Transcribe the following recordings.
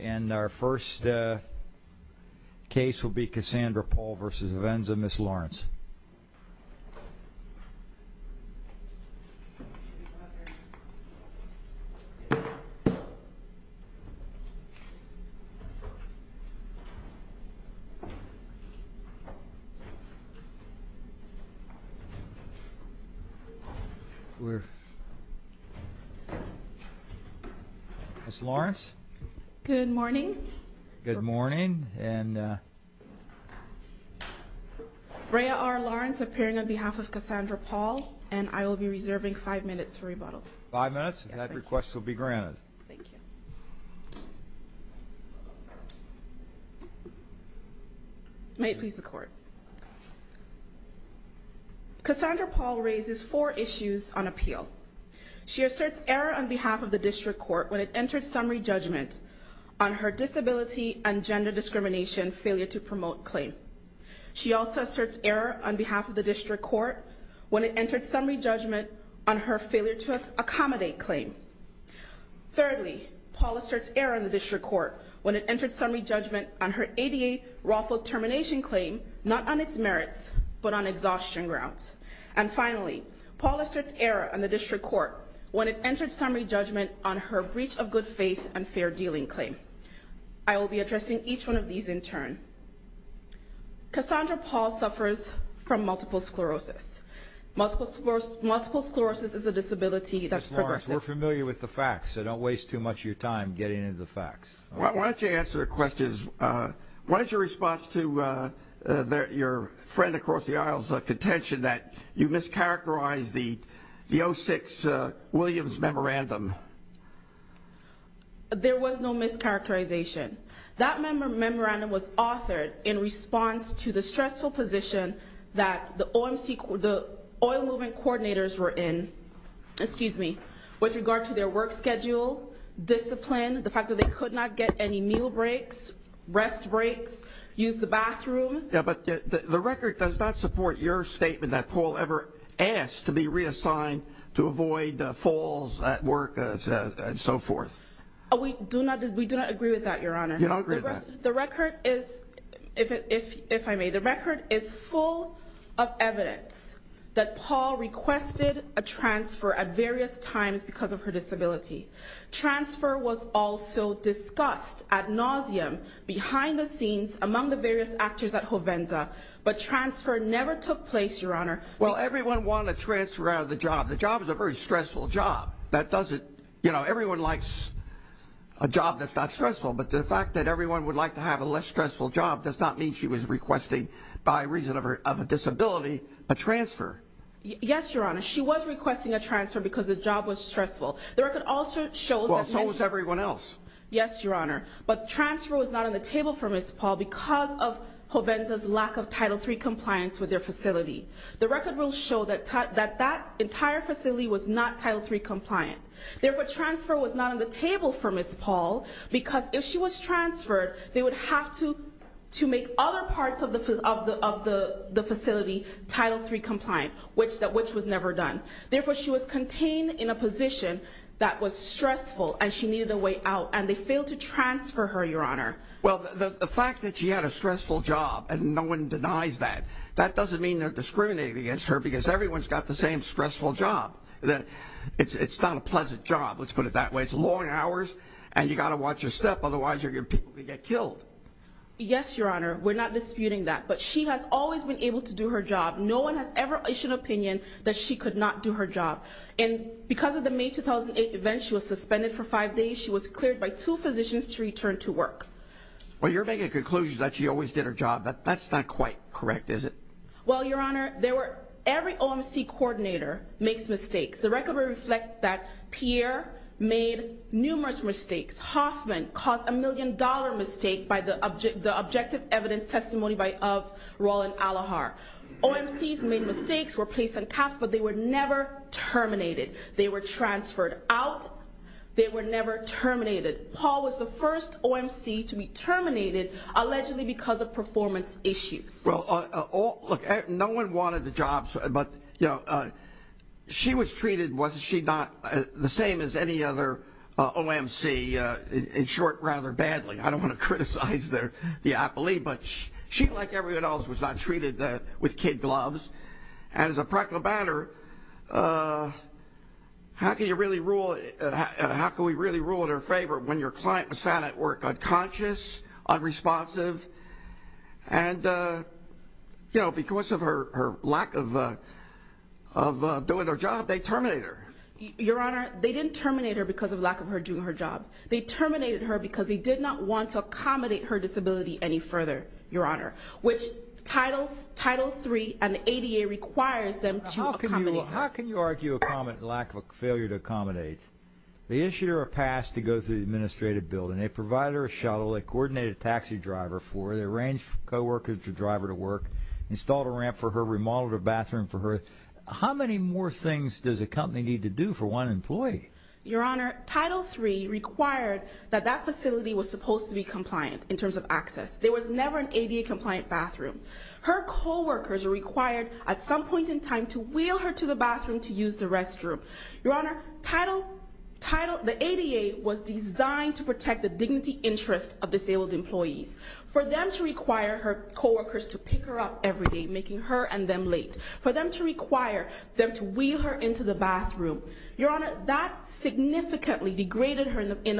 And our first case will be Cassandra Paul vs. Hovensa, Ms. Lawrence. Ms. Lawrence, good morning. Good morning. Good morning. And... Brea R. Lawrence appearing on behalf of Cassandra Paul, and I will be reserving five minutes for rebuttal. Five minutes? Yes, thank you. And that request will be granted. Thank you. May it please the Court. Cassandra Paul raises four issues on appeal. She asserts error on behalf of the District Court when it entered summary judgment on her disability and gender discrimination failure to promote claim. She also asserts error on behalf of the District Court when it entered summary judgment on her failure to accommodate claim. Thirdly, Paul asserts error on the District Court when it entered summary judgment on her ADA lawful termination claim, not on its merits, but on exhaustion grounds. And finally, Paul asserts error on the District Court when it entered summary judgment on her breach of good faith and fair dealing claim. I will be addressing each one of these in turn. Cassandra Paul suffers from multiple sclerosis. Multiple sclerosis is a disability that's progressive. Ms. Lawrence, we're familiar with the facts, so don't waste too much of your time getting into the facts. Why don't you answer the questions. What is your response to your friend across the aisle's contention that you mischaracterized the 06 Williams memorandum? There was no mischaracterization. That memorandum was authored in response to the stressful position that the oil movement coordinators were in, excuse me, with regard to their work schedule, discipline, the fact that they could not get any meal breaks, rest breaks, use the bathroom. Yeah, but the record does not support your statement that Paul ever asked to be reassigned to avoid falls at work and so forth. We do not agree with that, Your Honor. The record is, if I may, the record is full of evidence that Paul requested a transfer at various times because of her disability. Transfer was also discussed ad nauseam behind the scenes among the various actors at home at Hovenza, but transfer never took place, Your Honor. Well, everyone wanted a transfer out of the job. The job is a very stressful job. That does it. You know, everyone likes a job that's not stressful, but the fact that everyone would like to have a less stressful job does not mean she was requesting, by reason of a disability, a transfer. Yes, Your Honor. She was requesting a transfer because the job was stressful. The record also shows that everyone else, yes, Your Honor, but transfer was not on the Hovenza's lack of Title III compliance with their facility. The record will show that that entire facility was not Title III compliant. Therefore, transfer was not on the table for Ms. Paul because if she was transferred, they would have to make other parts of the facility Title III compliant, which was never done. Therefore, she was contained in a position that was stressful and she needed a way out, and they failed to transfer her, Your Honor. Well, the fact that she had a stressful job and no one denies that, that doesn't mean they're discriminating against her because everyone's got the same stressful job. It's not a pleasant job. Let's put it that way. It's long hours and you've got to watch your step, otherwise your people could get killed. Yes, Your Honor. We're not disputing that, but she has always been able to do her job. No one has ever issued an opinion that she could not do her job. Because of the May 2008 event, she was suspended for five days. She was cleared by two physicians to return to work. Well, you're making a conclusion that she always did her job. That's not quite correct, is it? Well, Your Honor, every OMC coordinator makes mistakes. The record will reflect that Pierre made numerous mistakes. Hoffman caused a million-dollar mistake by the objective evidence testimony of Roland Alohar. OMCs made mistakes, were placed on caps, but they were never terminated. They were transferred out. They were never terminated. Paul was the first OMC to be terminated, allegedly because of performance issues. Well, look, no one wanted the job, but she was treated, was she not, the same as any other OMC, in short, rather badly. I don't want to criticize the apology, but she, like everyone else, was not treated with kid gloves. And as a practical matter, how can you really rule, how can we really rule in her favor when your client was found at work unconscious, unresponsive, and, you know, because of her lack of doing her job, they terminate her. Your Honor, they didn't terminate her because of lack of her doing her job. They terminated her because they did not want to accommodate her disability any further, Your Honor, which Title III and the ADA requires them to accommodate her. How can you argue a lack of failure to accommodate? They issued her a pass to go through the administrative building. They provided her a shuttle, they coordinated a taxi driver for her, they arranged co-workers for the driver to work, installed a ramp for her, remodeled a bathroom for her. How many more things does a company need to do for one employee? Your Honor, Title III required that that facility was supposed to be compliant in terms of access. There was never an ADA compliant bathroom. Her co-workers were required at some point in time to wheel her to the bathroom to use the restroom. Your Honor, the ADA was designed to protect the dignity interest of disabled employees. For them to require her co-workers to pick her up every day, making her and them late. For them to require them to wheel her into the bathroom. Your Honor, that significantly degraded her in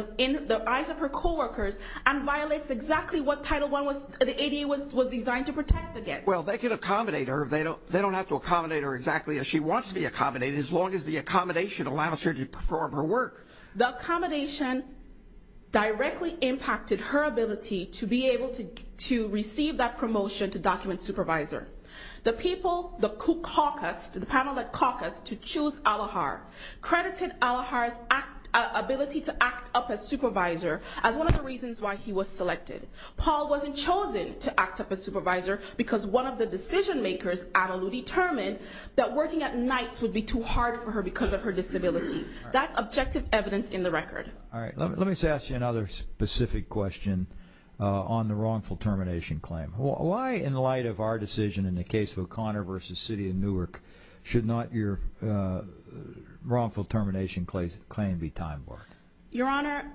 the eyes of her co-workers and violates exactly what Title I, the ADA was designed to protect against. Well they can accommodate her, they don't have to accommodate her exactly as she wants to be accommodated as long as the accommodation allows her to perform her work. The accommodation directly impacted her ability to be able to receive that promotion to document supervisor. The people, the caucus, the panel that caucused to choose Al-Ahar credited Al-Ahar's ability to act up as supervisor as one of the reasons why he was selected. Paul wasn't chosen to act up as supervisor because one of the decision makers, Anna Lou, determined that working at night would be too hard for her because of her disability. That's objective evidence in the record. Let me ask you another specific question on the wrongful termination claim. Why in light of our decision in the case of O'Connor v. City of Newark should not your termination claim be time warped? Your Honor,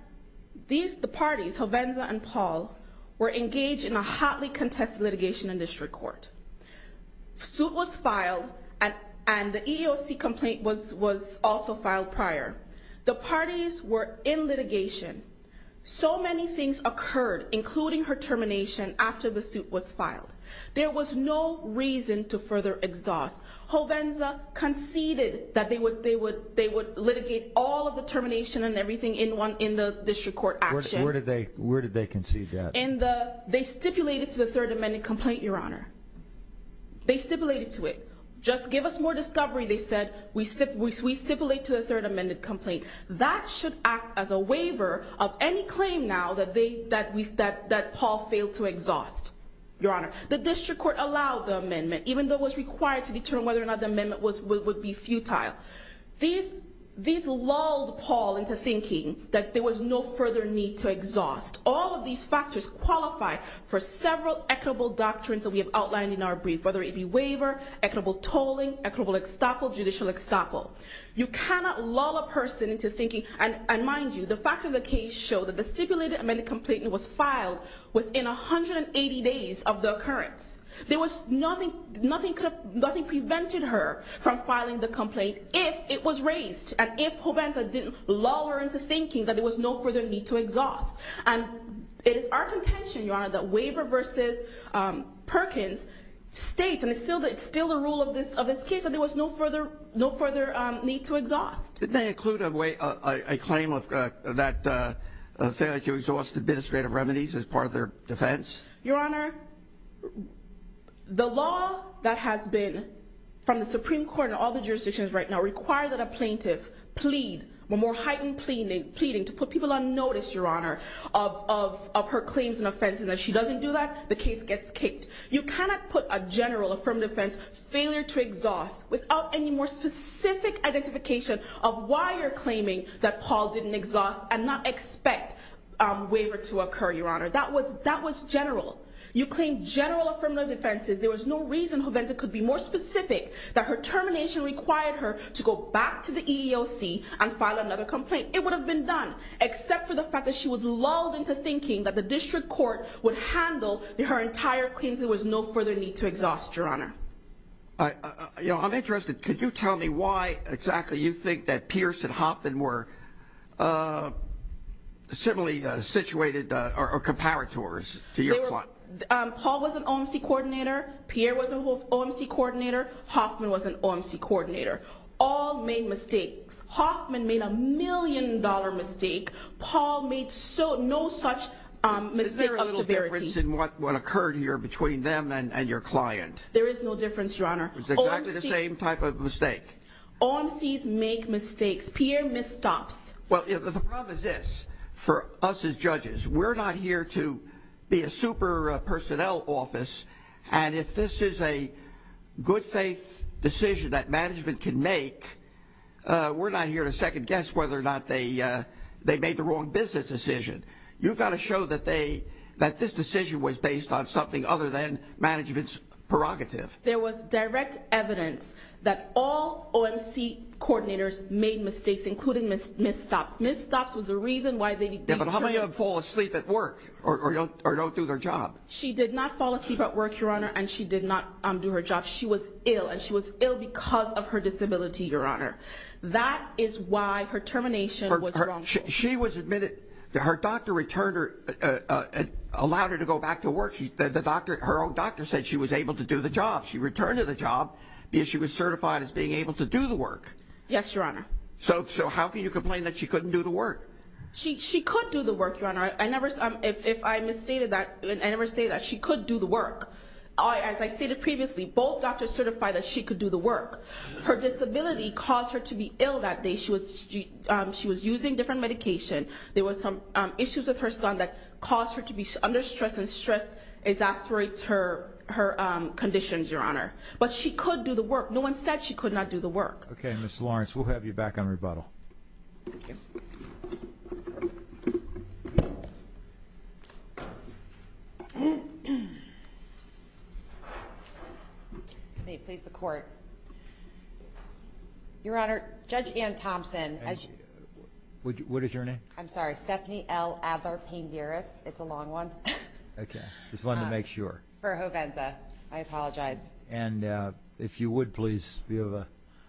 the parties, Jovenza and Paul, were engaged in a hotly contested litigation in district court. A suit was filed and the EEOC complaint was also filed prior. The parties were in litigation. So many things occurred, including her termination, after the suit was filed. There was no reason to further exhaust. Jovenza conceded that they would litigate all of the termination and everything in the district court action. Where did they concede that? They stipulated to the third amended complaint, Your Honor. They stipulated to it. Just give us more discovery, they said. We stipulate to the third amended complaint. That should act as a waiver of any claim now that Paul failed to exhaust, Your Honor. The district court allowed the amendment, even though it was required to determine whether or not the amendment would be futile. These lulled Paul into thinking that there was no further need to exhaust. All of these factors qualify for several equitable doctrines that we have outlined in our brief, whether it be waiver, equitable tolling, equitable estoppel, judicial estoppel. You cannot lull a person into thinking, and mind you, the facts of the case show that the stipulated amended complaint was filed within 180 days of the occurrence. There was nothing, nothing could have, nothing prevented her from filing the complaint if it was raised and if Jovenza didn't lull her into thinking that there was no further need to exhaust. And it is our contention, Your Honor, that waiver versus Perkins states, and it's still the rule of this case, that there was no further need to exhaust. Didn't they include a claim of that failure to exhaust administrative remedies as part of their defense? Your Honor, the law that has been, from the Supreme Court and all the jurisdictions right now, require that a plaintiff plead, a more heightened pleading, to put people on notice, Your Honor, of her claims and offenses, and if she doesn't do that, the case gets kicked. You cannot put a general affirmative offense, failure to exhaust, without any more specific identification of why you're claiming that Paul didn't exhaust and not expect a waiver to occur, Your Honor. That was general. You claim general affirmative offenses, there was no reason Jovenza could be more specific that her termination required her to go back to the EEOC and file another complaint. It would have been done, except for the fact that she was lulled into thinking that the district court would handle her entire claims, there was no further need to exhaust, Your Honor. Now, you know, I'm interested, could you tell me why exactly you think that Pierce and Hoffman were similarly situated, or comparators, to your client? Paul was an OMC coordinator, Pierre was an OMC coordinator, Hoffman was an OMC coordinator. All made mistakes. Hoffman made a million dollar mistake, Paul made no such mistake of severity. Is there a little difference in what occurred here between them and your client? There is no difference, Your Honor. It was exactly the same type of mistake. OMCs make mistakes. Pierre misstops. Well, the problem is this, for us as judges, we're not here to be a super personnel office, and if this is a good faith decision that management can make, we're not here to second guess whether or not they made the wrong business decision. You've got to show that they, that this decision was based on something other than management's prerogative. There was direct evidence that all OMC coordinators made mistakes, including misstops. Misstops was the reason why they didn't do their job. She did not fall asleep at work, Your Honor, and she did not do her job. She was ill, and she was ill because of her disability, Your Honor. That is why her termination was wrong. She was admitted, her doctor returned her, allowed her to go back to work. Her own doctor said she was able to do the job. She returned to the job because she was certified as being able to do the work. Yes, Your Honor. So, so how can you complain that she couldn't do the work? She could do the work, Your Honor. I never, if I misstated that, I never stated that she could do the work. As I stated previously, both doctors certified that she could do the work. Her disability caused her to be ill that day. She was, she was using different medication. There were some issues with her son that caused her to be under stress, and stress exasperates her, her conditions, Your Honor. But she could do the work. No one said she could not do the work. Okay. Ms. Lawrence, we'll have you back on rebuttal. Thank you. May it please the Court. Your Honor, Judge Ann Thompson. What is your name? I'm sorry. Stephanie L. Adler-Panguris. It's a long one. Okay. Just wanted to make sure. For Hovenza. I apologize. And if you would, please, if you have a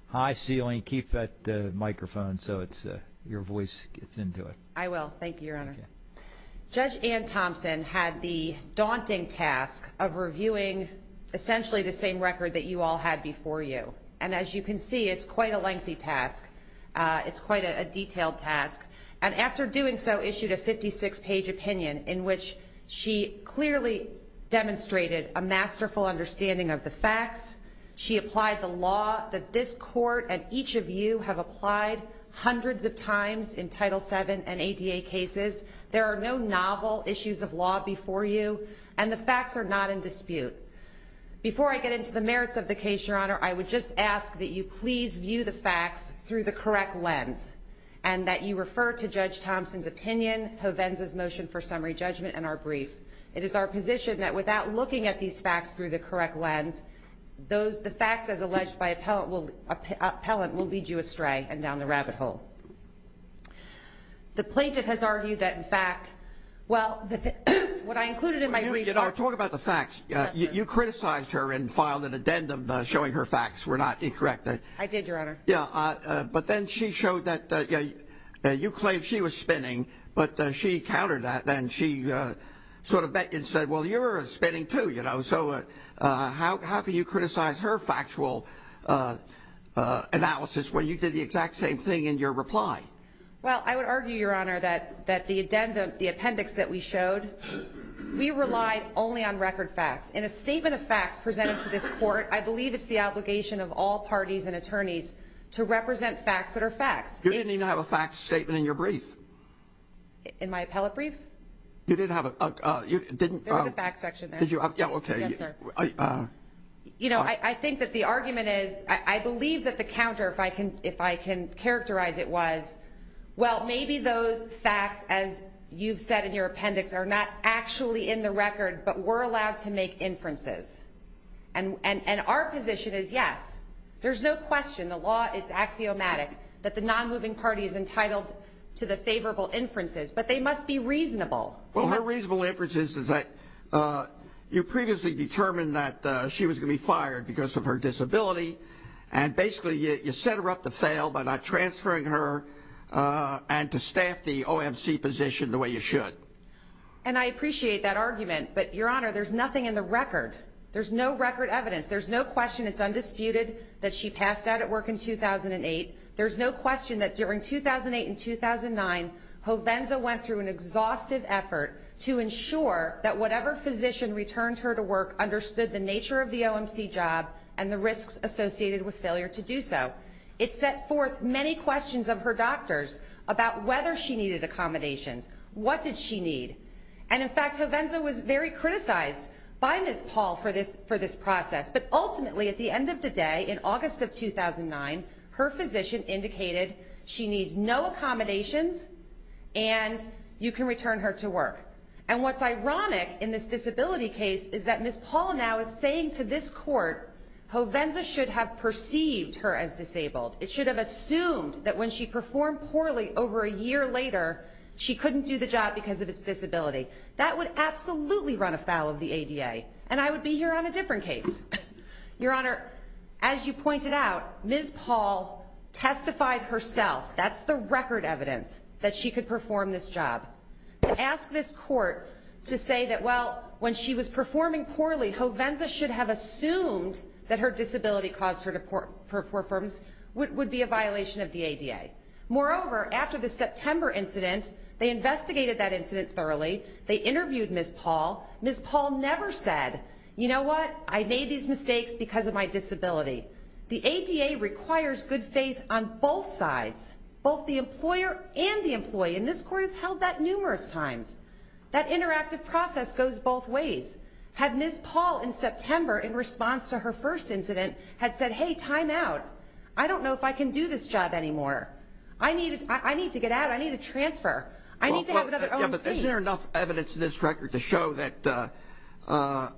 high ceiling, keep that microphone so it's, your voice gets into it. I will. Thank you, Your Honor. Okay. Judge Ann Thompson had the daunting task of reviewing essentially the same record that you all had before you. And as you can see, it's quite a lengthy task. It's quite a detailed task. And after doing so, issued a 56-page opinion in which she clearly demonstrated a masterful understanding of the facts. She applied the law that this Court and each of you have applied hundreds of times in Title VII and ADA cases. There are no novel issues of law before you, and the facts are not in dispute. Before I get into the merits of the case, Your Honor, I would just ask that you please view the facts through the correct lens and that you refer to Judge Thompson's opinion, Hovenza's motion for summary judgment, and our brief. It is our position that without looking at these facts through the correct lens, the facts as alleged by appellant will lead you astray and down the rabbit hole. The plaintiff has argued that, in fact, well, what I included in my brief... You know, talk about the facts. Yes, sir. You criticized her and filed an addendum showing her facts were not incorrect. I did, Your Honor. Yeah, but then she showed that you claimed she was spinning, but she countered that, and she sort of bet and said, well, you're spinning too, you know. So how can you criticize her factual analysis when you did the exact same thing in your reply? Well, I would argue, Your Honor, that the addendum, the appendix that we showed, we relied only on record facts. In a statement of facts presented to this court, I believe it's the obligation of all parties and attorneys to represent facts that are facts. You didn't even have a facts statement in your brief. In my appellate brief? You didn't have a... There was a facts section there. Yeah, okay. Yes, sir. You know, I think that the argument is, I believe that the counter, if I can characterize it, was, well, maybe those facts, as you've said in your appendix, are not actually in the record, but were allowed to make inferences. And our position is, yes, there's no question, the law, it's axiomatic, that the non-moving party is entitled to the favorable inferences, but they must be reasonable. Well, her reasonable inferences is that you previously determined that she was going to be fired because of her disability, and basically you set her up to fail by not transferring her and to staff the OMC position the way you should. And I appreciate that argument, but, Your Honor, there's nothing in the record. There's no record evidence. There's no question it's undisputed that she passed out at work in 2008. There's no question that during 2008 and 2009, Hovenza went through an exhaustive effort to ensure that whatever physician returned her to work understood the nature of the OMC job and the risks associated with failure to do so. It set forth many questions of her doctors about whether she needed accommodations, what did she need. And, in fact, Hovenza was very criticized by Ms. Paul for this process, but ultimately at the end of the day, in August of 2009, her physician indicated she needs no accommodations and you can return her to work. And what's ironic in this disability case is that Ms. Paul now is saying to this court Hovenza should have perceived her as disabled. It should have assumed that when she performed poorly over a year later, she couldn't do the job because of her disability. That would absolutely run afoul of the ADA. And I would be here on a different case. Your Honor, as you pointed out, Ms. Paul testified herself, that's the record evidence, that she could perform this job. To ask this court to say that, well, when she was performing poorly, Hovenza should have assumed that her disability caused her to perform would be a violation of the ADA. Moreover, after the September incident, they investigated that incident thoroughly, they interviewed Ms. Paul. Ms. Paul never said, you know what, I made these mistakes because of my disability. The ADA requires good faith on both sides, both the employer and the employee, and this court has held that numerous times. That interactive process goes both ways. Had Ms. Paul in September, in response to her first incident, had said, hey, time out. I don't know if I can do this job anymore. I need to get out. I need a transfer. I need to have another own seat. But isn't there enough evidence in this record to show that a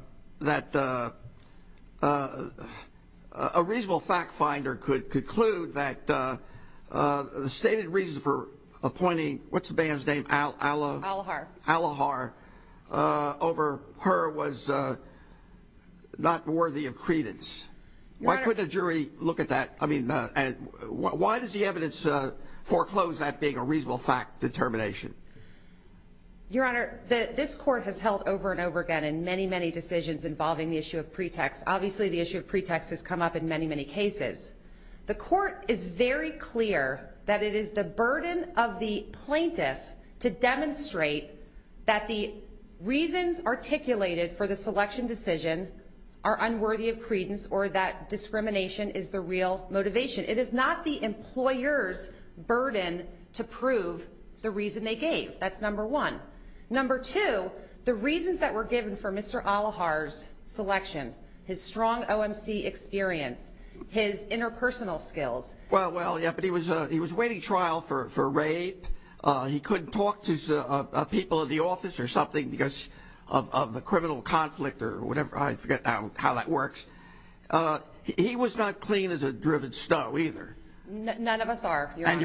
reasonable fact finder could conclude that the stated reason for appointing, what's the band's name, Alohar, over her was not worthy of credence. Why couldn't a jury look at that? I mean, why does the evidence foreclose that being a reasonable fact determination? Your Honor, this court has held over and over again in many, many decisions involving the issue of pretext. Obviously, the issue of pretext has come up in many, many cases. The court is very clear that it is the burden of the plaintiff to demonstrate that the reasons articulated for the selection decision are unworthy of credence or that discrimination is the real motivation. It is not the employer's burden to prove the reason they gave. That's number one. Number two, the reasons that were given for Mr. Alohar's selection, his strong OMC experience, his interpersonal skills. Well, yeah, but he was waiting trial for rape. He couldn't talk to people in the office or something because of the criminal conflict or whatever. I forget now how that works. He was not clean as a driven snow either. None of us are, Your Honor. And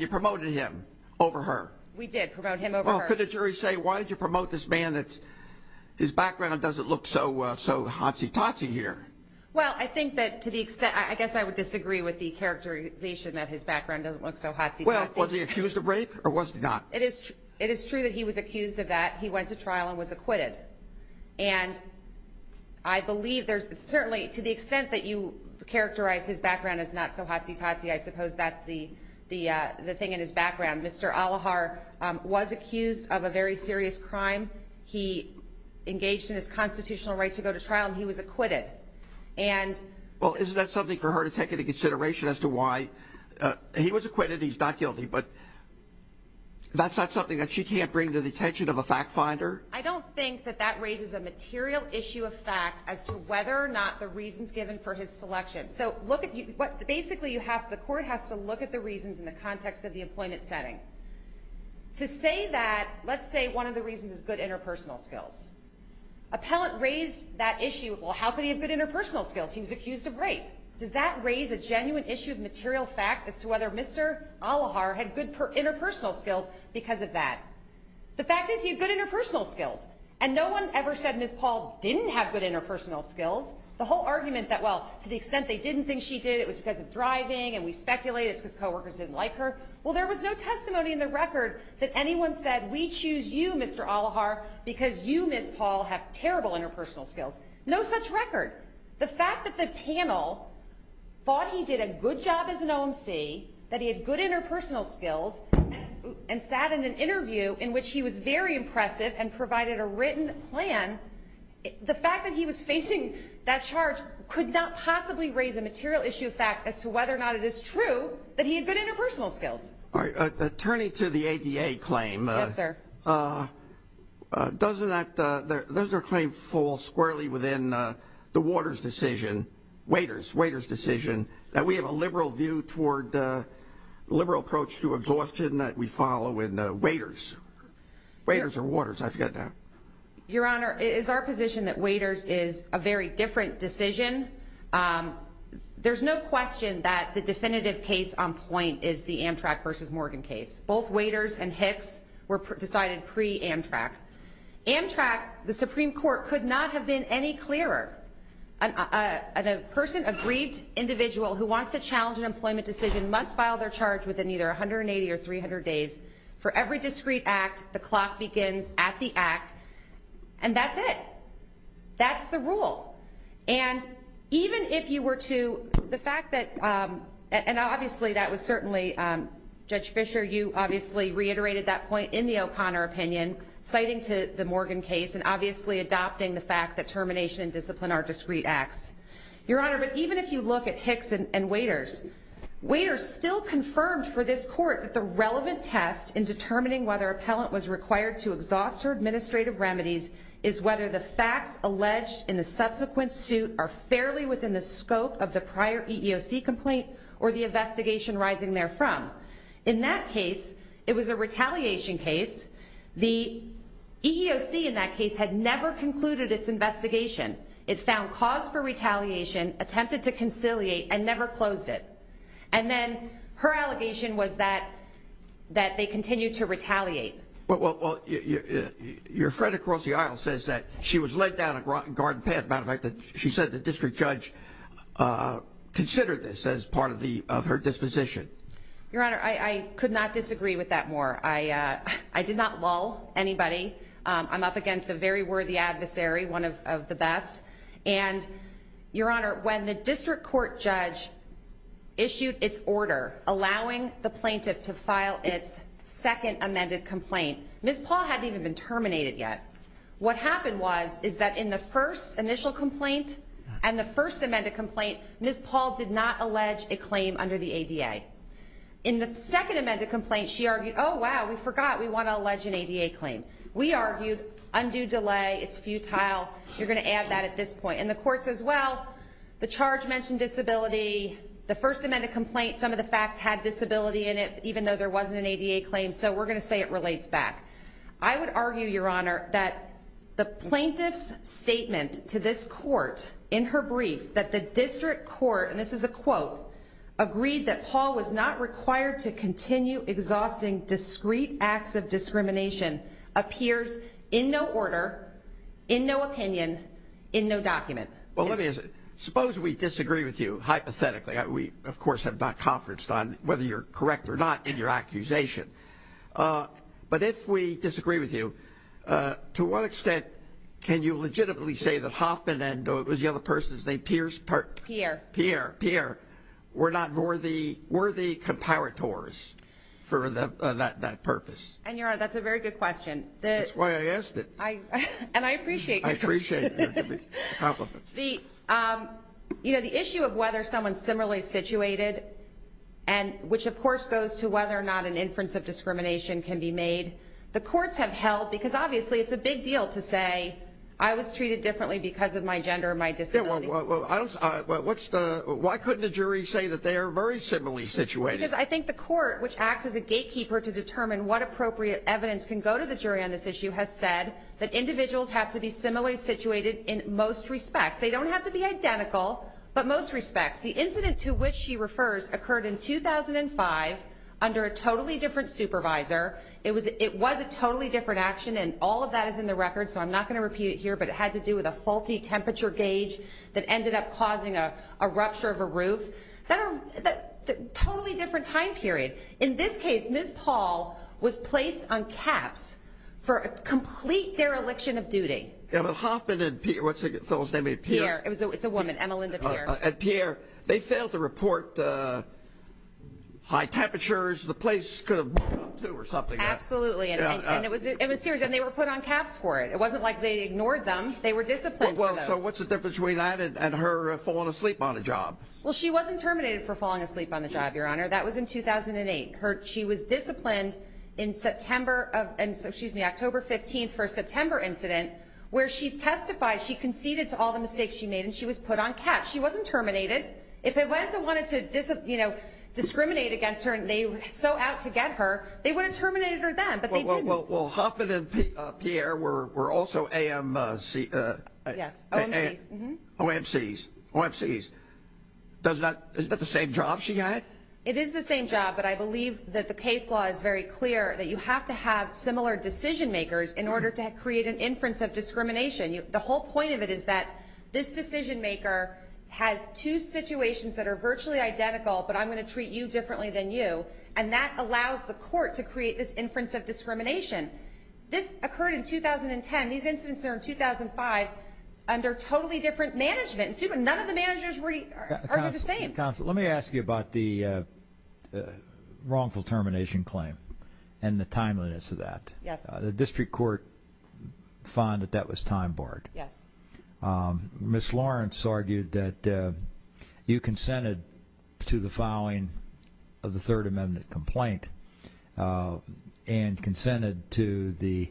you promoted him over her. We did promote him over her. Well, could the jury say, why did you promote this man? His background doesn't look so hotsy totsy here. Well, I think that to the extent, I guess I would disagree with the characterization that his background doesn't look so hotsy totsy. Well, was he accused of rape or was he not? It is true that he was accused of that. He went to trial and was acquitted. And I believe there's certainly, to the extent that you characterize his background as not so hotsy totsy, I suppose that's the thing in his background. Mr. Alohar was accused of a very serious crime. He engaged in his constitutional right to go to trial and he was acquitted. Well, isn't that something for her to take into consideration as to why he was acquitted, he's not guilty, but that's not something that she can't bring to the attention of a fact finder? I don't think that that raises a material issue of fact as to whether or not the reasons given for his selection. So basically the court has to look at the reasons in the context of the employment setting. To say that, let's say one of the reasons is good interpersonal skills. Appellant raised that issue, well, how could he have good interpersonal skills? He was accused of rape. Does that raise a genuine issue of material fact as to whether Mr. Alohar had good interpersonal skills because of that? The fact is he had good interpersonal skills. And no one ever said Ms. Paul didn't have good interpersonal skills. The whole argument that, well, to the extent they didn't think she did, it was because of driving and we speculate it's because coworkers didn't like her. Well, there was no testimony in the record that anyone said we choose you, Mr. Alohar, because you, Ms. Paul, have terrible interpersonal skills. No such record. The fact that the panel thought he did a good job as an OMC, that he had good interpersonal skills, and sat in an interview in which he was very impressive and provided a written plan, the fact that he was facing that charge could not possibly raise a material issue of fact as to whether or not it is true that he had good interpersonal skills. All right. Turning to the ADA claim. Yes, sir. Doesn't that claim fall squarely within the Waters decision, Waiters decision, that we have a liberal view toward the liberal approach to exhaustion that we follow in Waiters? Waiters or Waters, I forget that. Your Honor, it is our position that Waiters is a very different decision. There's no question that the definitive case on point is the Amtrak versus Morgan case. Both Waiters and Hicks were decided pre-Amtrak. Amtrak, the Supreme Court could not have been any clearer. A person, a grieved individual who wants to challenge an employment decision must file their charge within either 180 or 300 days. For every discreet act, the clock begins at the act, and that's it. That's the rule. And even if you were to, the fact that, and obviously that was certainly, Judge Fischer, you obviously reiterated that point in the O'Connor opinion, citing to the Morgan case and obviously adopting the fact that termination and discipline are discreet acts. Your Honor, even if you look at Hicks and Waiters, Waiters still confirmed for this court that the relevant test in determining whether an appellant was required to exhaust her administrative remedies is whether the facts alleged in the subsequent suit are fairly within the scope of the prior EEOC complaint or the investigation rising therefrom. In that case, it was a retaliation case. The EEOC in that case had never concluded its investigation. It found cause for retaliation, attempted to conciliate, and never closed it. And then her allegation was that they continued to retaliate. Well, your friend across the aisle says that she was led down a garden path. As a matter of fact, she said the district judge considered this as part of her disposition. Your Honor, I could not disagree with that more. I did not lull anybody. I'm up against a very worthy adversary, one of the best. And, Your Honor, when the district court judge issued its order allowing the plaintiff to file its second amended complaint, Ms. Paul hadn't even been terminated yet. What happened was is that in the first initial complaint and the first amended complaint, Ms. Paul did not allege a claim under the ADA. In the second amended complaint, she argued, oh, wow, we forgot we want to allege an ADA claim. We argued, undue delay, it's futile, you're going to add that at this point. And the court says, well, the charge mentioned disability. The first amended complaint, some of the facts had disability in it, even though there wasn't an ADA claim, so we're going to say it relates back. I would argue, Your Honor, that the plaintiff's statement to this court in her brief that the district court, and this is a quote, agreed that Paul was not required to continue exhausting discreet acts of discrimination appears in no order, in no opinion, in no document. Well, let me ask you, suppose we disagree with you, hypothetically. We, of course, have not conferenced on whether you're correct or not in your accusation. But if we disagree with you, to what extent can you legitimately say that Hoffman and the other person's name, Pierce? Pierre. Pierre. Pierre were not worthy comparators for that purpose? And, Your Honor, that's a very good question. That's why I asked it. And I appreciate it. I appreciate your compliment. The issue of whether someone's similarly situated, which of course goes to whether or not an inference of discrimination can be made, the courts have held, because obviously it's a big deal to say, I was treated differently because of my gender or my disability. Why couldn't the jury say that they are very similarly situated? Because I think the court, which acts as a gatekeeper to determine what appropriate evidence can go to the jury on this issue, has said that individuals have to be similarly situated in most respects. They don't have to be identical, but most respects. The incident to which she refers occurred in 2005 under a totally different supervisor. It was a totally different action, and all of that is in the record, so I'm not going to repeat it here, but it had to do with a faulty temperature gauge that ended up causing a rupture of a roof. Totally different time period. In this case, Ms. Paul was placed on caps for a complete dereliction of duty. Emma Hoffman and Pierre, what's the fellow's name, Pierre? Pierre, it's a woman, Emma Linda Pierre. And Pierre, they failed to report the high temperatures the place could have moved up to or something. Absolutely, and it was serious, and they were put on caps for it. It wasn't like they ignored them. They were disciplined for those. Well, so what's the difference between that and her falling asleep on the job? Well, she wasn't terminated for falling asleep on the job, Your Honor. That was in 2008. She was disciplined in October 15th for a September incident where she testified, she conceded to all the mistakes she made, and she was put on caps. She wasn't terminated. If it was and wanted to discriminate against her and they were so out to get her, they would have terminated her then, but they didn't. Well, Hoffman and Pierre were also AMCs. Yes, OMCs. OMCs. Is that the same job she got? It is the same job, but I believe that the case law is very clear that you have to have similar decision makers in order to create an inference of discrimination. The whole point of it is that this decision maker has two situations that are virtually identical, but I'm going to treat you differently than you, and that allows the court to create this inference of discrimination. This occurred in 2010. These incidents are in 2005 under totally different management. None of the managers are the same. Counsel, let me ask you about the wrongful termination claim and the timeliness of that. Yes. The district court found that that was time-barred. Yes. Ms. Lawrence argued that you consented to the filing of the Third Amendment complaint and consented to the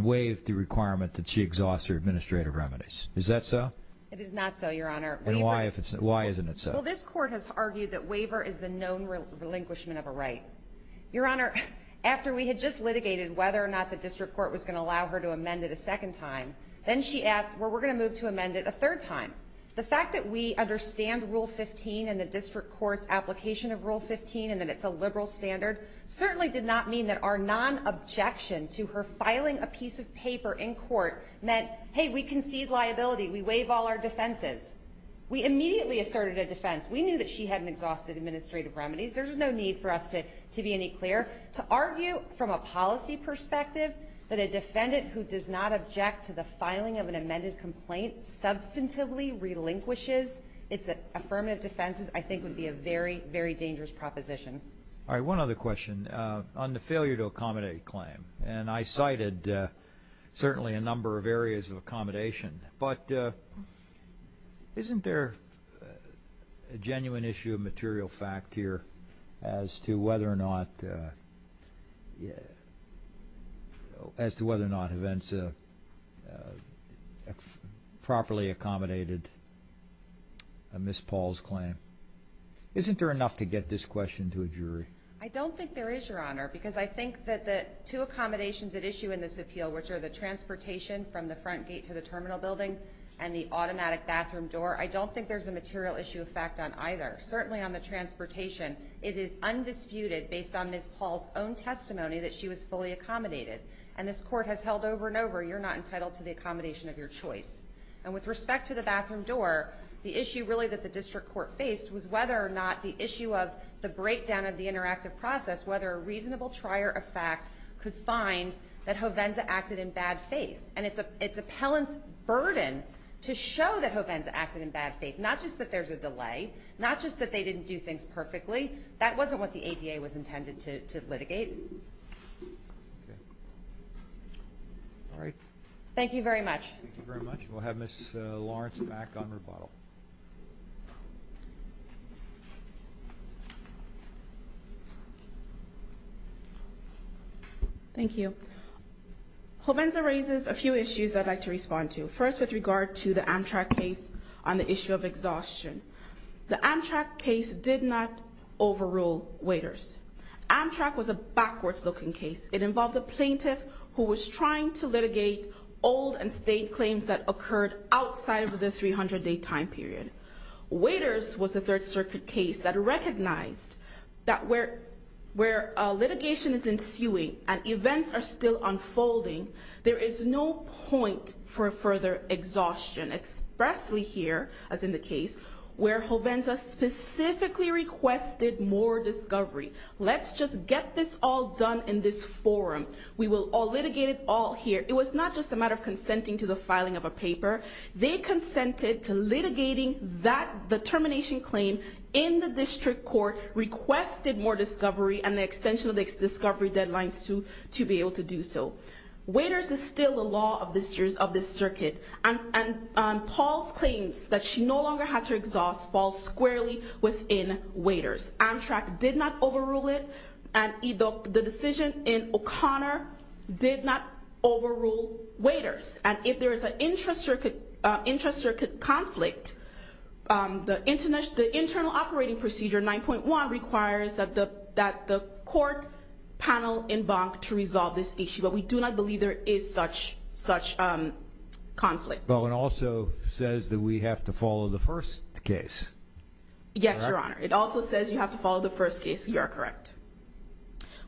way of the requirement that she exhausts her administrative remedies. Is that so? It is not so, Your Honor. And why isn't it so? Well, this court has argued that waiver is the known relinquishment of a right. Your Honor, after we had just litigated whether or not the district court was going to allow her to amend it a second time, then she asked, well, we're going to move to amend it a third time. The fact that we understand Rule 15 and the district court's application of Rule 15 and that it's a liberal standard certainly did not mean that our non-objection to her filing a piece of paper in court meant, hey, we concede liability, we waive all our defenses. We immediately asserted a defense. We knew that she hadn't exhausted administrative remedies. There's no need for us to be any clearer. To argue from a policy perspective that a defendant who does not object to the filing of an amended complaint substantively relinquishes its affirmative defenses I think would be a very, very dangerous proposition. All right, one other question. On the failure to accommodate claim, and I cited certainly a number of areas of accommodation, but isn't there a genuine issue of material fact here as to whether or not events properly accommodated Miss Paul's claim? Isn't there enough to get this question to a jury? I don't think there is, Your Honor, because I think that the two accommodations at issue in this appeal, which are the transportation from the front gate to the terminal building and the automatic bathroom door, I don't think there's a material issue of fact on either. Certainly on the transportation, it is undisputed based on Miss Paul's own testimony that she was fully accommodated. And this court has held over and over you're not entitled to the accommodation of your choice. And with respect to the bathroom door, the issue really that the district court faced was whether or not the issue of the breakdown of the interactive process, whether a reasonable trier of fact could find that Hovenza acted in bad faith. And it's appellant's burden to show that Hovenza acted in bad faith, not just that there's a delay, not just that they didn't do things perfectly. That wasn't what the ADA was intended to litigate. All right. Thank you very much. Thank you very much. We'll have Miss Lawrence back on rebuttal. Thank you. Hovenza raises a few issues I'd like to respond to. First, with regard to the Amtrak case on the issue of exhaustion. The Amtrak case did not overrule waiters. Amtrak was a backwards-looking case. It involved a plaintiff who was trying to litigate old and state claims that occurred outside of the 300-day time period. Waiters was a Third Circuit case that recognized that where litigation is ensuing and events are still unfolding, there is no point for further exhaustion, especially here, as in the case where Hovenza specifically requested more discovery. Let's just get this all done in this forum. We will litigate it all here. It was not just a matter of consenting to the filing of a paper. They consented to litigating the termination claim in the district court, requested more discovery, and the extension of the discovery deadlines to be able to do so. Waiters is still the law of this circuit, and Paul's claims that she no longer had to exhaust fall squarely within waiters. Amtrak did not overrule it, and the decision in O'Connor did not overrule waiters. And if there is an intra-circuit conflict, the internal operating procedure 9.1 requires that the court panel embank to resolve this issue, but we do not believe there is such conflict. Well, it also says that we have to follow the first case. Yes, Your Honor. It also says you have to follow the first case. You are correct.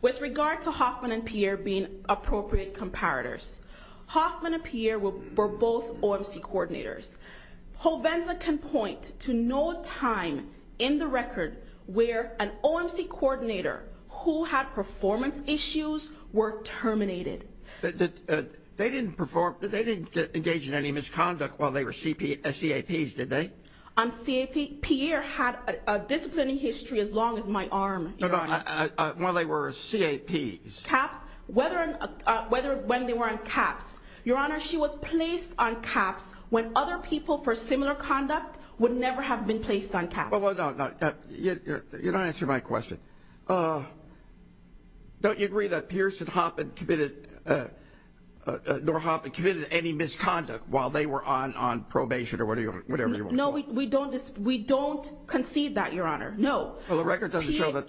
With regard to Hoffman and Pierre being appropriate comparators, Hoffman and Pierre were both OMC coordinators. Hovenza can point to no time in the record where an OMC coordinator who had performance issues were terminated. They didn't engage in any misconduct while they were CAPs, did they? Pierre had a disciplinary history as long as my arm, Your Honor. No, no, while they were CAPs. CAPs, when they were on CAPs. Your Honor, she was placed on CAPs when other people for similar conduct would never have been placed on CAPs. Well, no, you're not answering my question. Don't you agree that Pierce and Hoffman committed, nor Hoffman committed any misconduct while they were on probation or whatever you want to call it? No, we don't concede that, Your Honor. No. Well, the record doesn't show that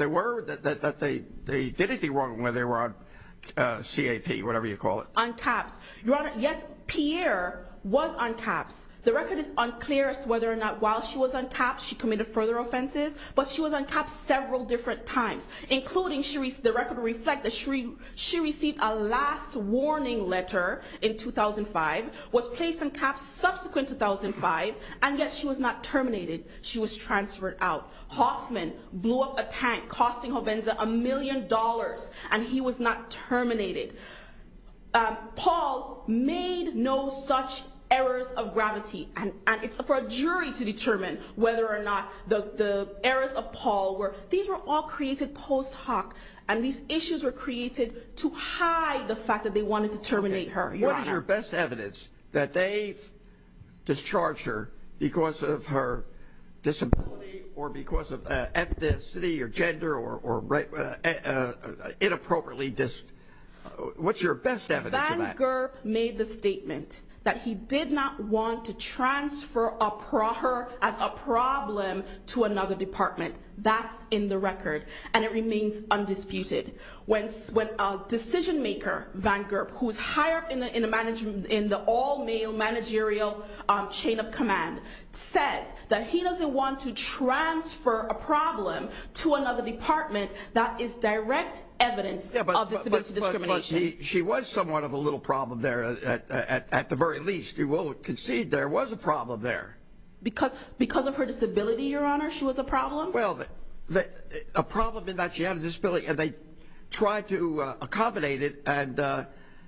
they did anything wrong when they were on CAP, whatever you call it. On CAPs. Your Honor, yes, Pierre was on CAPs. The record is unclear as to whether or not while she was on CAPs she committed further offenses, but she was on CAPs several different times, including the record reflects that she received a last warning letter in 2005, was placed on CAPs subsequent to 2005, and yet she was not terminated. She was transferred out. Hoffman blew up a tank costing Hovenza a million dollars, and he was not terminated. Paul made no such errors of gravity, and it's for a jury to determine whether or not the errors of Paul were. These were all created post hoc, and these issues were created to hide the fact that they wanted to terminate her, Your Honor. What is your best evidence that they discharged her because of her disability or because of ethnicity or gender or inappropriately? What's your best evidence of that? Van Gerp made the statement that he did not want to transfer her as a problem to another department. That's in the record, and it remains undisputed. When a decision maker, Van Gerp, who's hired in the all-male managerial chain of command, says that he doesn't want to transfer a problem to another department, that is direct evidence of disability discrimination. She was somewhat of a little problem there at the very least. You will concede there was a problem there. Because of her disability, Your Honor, she was a problem? Well, a problem in that she had a disability, and they tried to accommodate it, and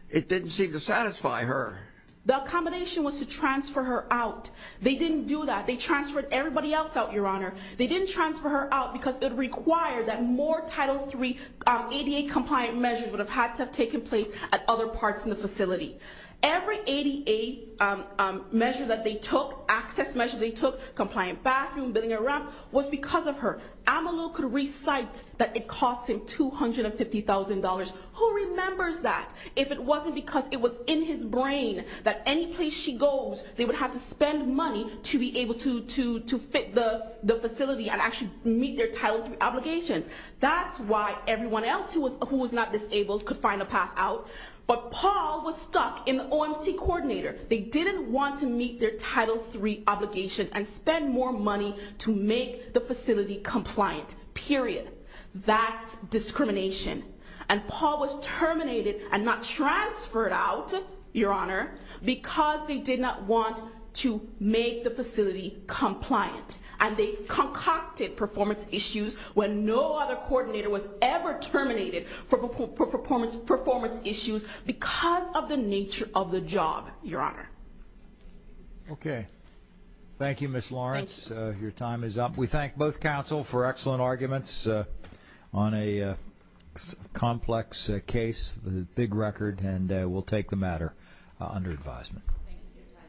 it didn't seem to satisfy her. The accommodation was to transfer her out. They didn't do that. They transferred everybody else out, Your Honor. They didn't transfer her out because it required that more Title III ADA-compliant measures would have had to have taken place at other parts in the facility. Every ADA measure that they took, access measure they took, compliant bathroom, building and ramp, was because of her. Amalou could recite that it cost him $250,000. Who remembers that? If it wasn't because it was in his brain that any place she goes, they would have to spend money to be able to fit the facility and actually meet their Title III obligations. That's why everyone else who was not disabled could find a path out. But Paul was stuck in the OMC coordinator. They didn't want to meet their Title III obligations and spend more money to make the facility compliant. Period. That's discrimination. And Paul was terminated and not transferred out, Your Honor, because they did not want to make the facility compliant. And they concocted performance issues when no other coordinator was ever terminated for performance issues because of the nature of the job, Your Honor. Okay. Thank you, Ms. Lawrence. Thank you. Your time is up. We thank both counsel for excellent arguments on a complex case with a big record, and we'll take the matter under advisement. Thank you.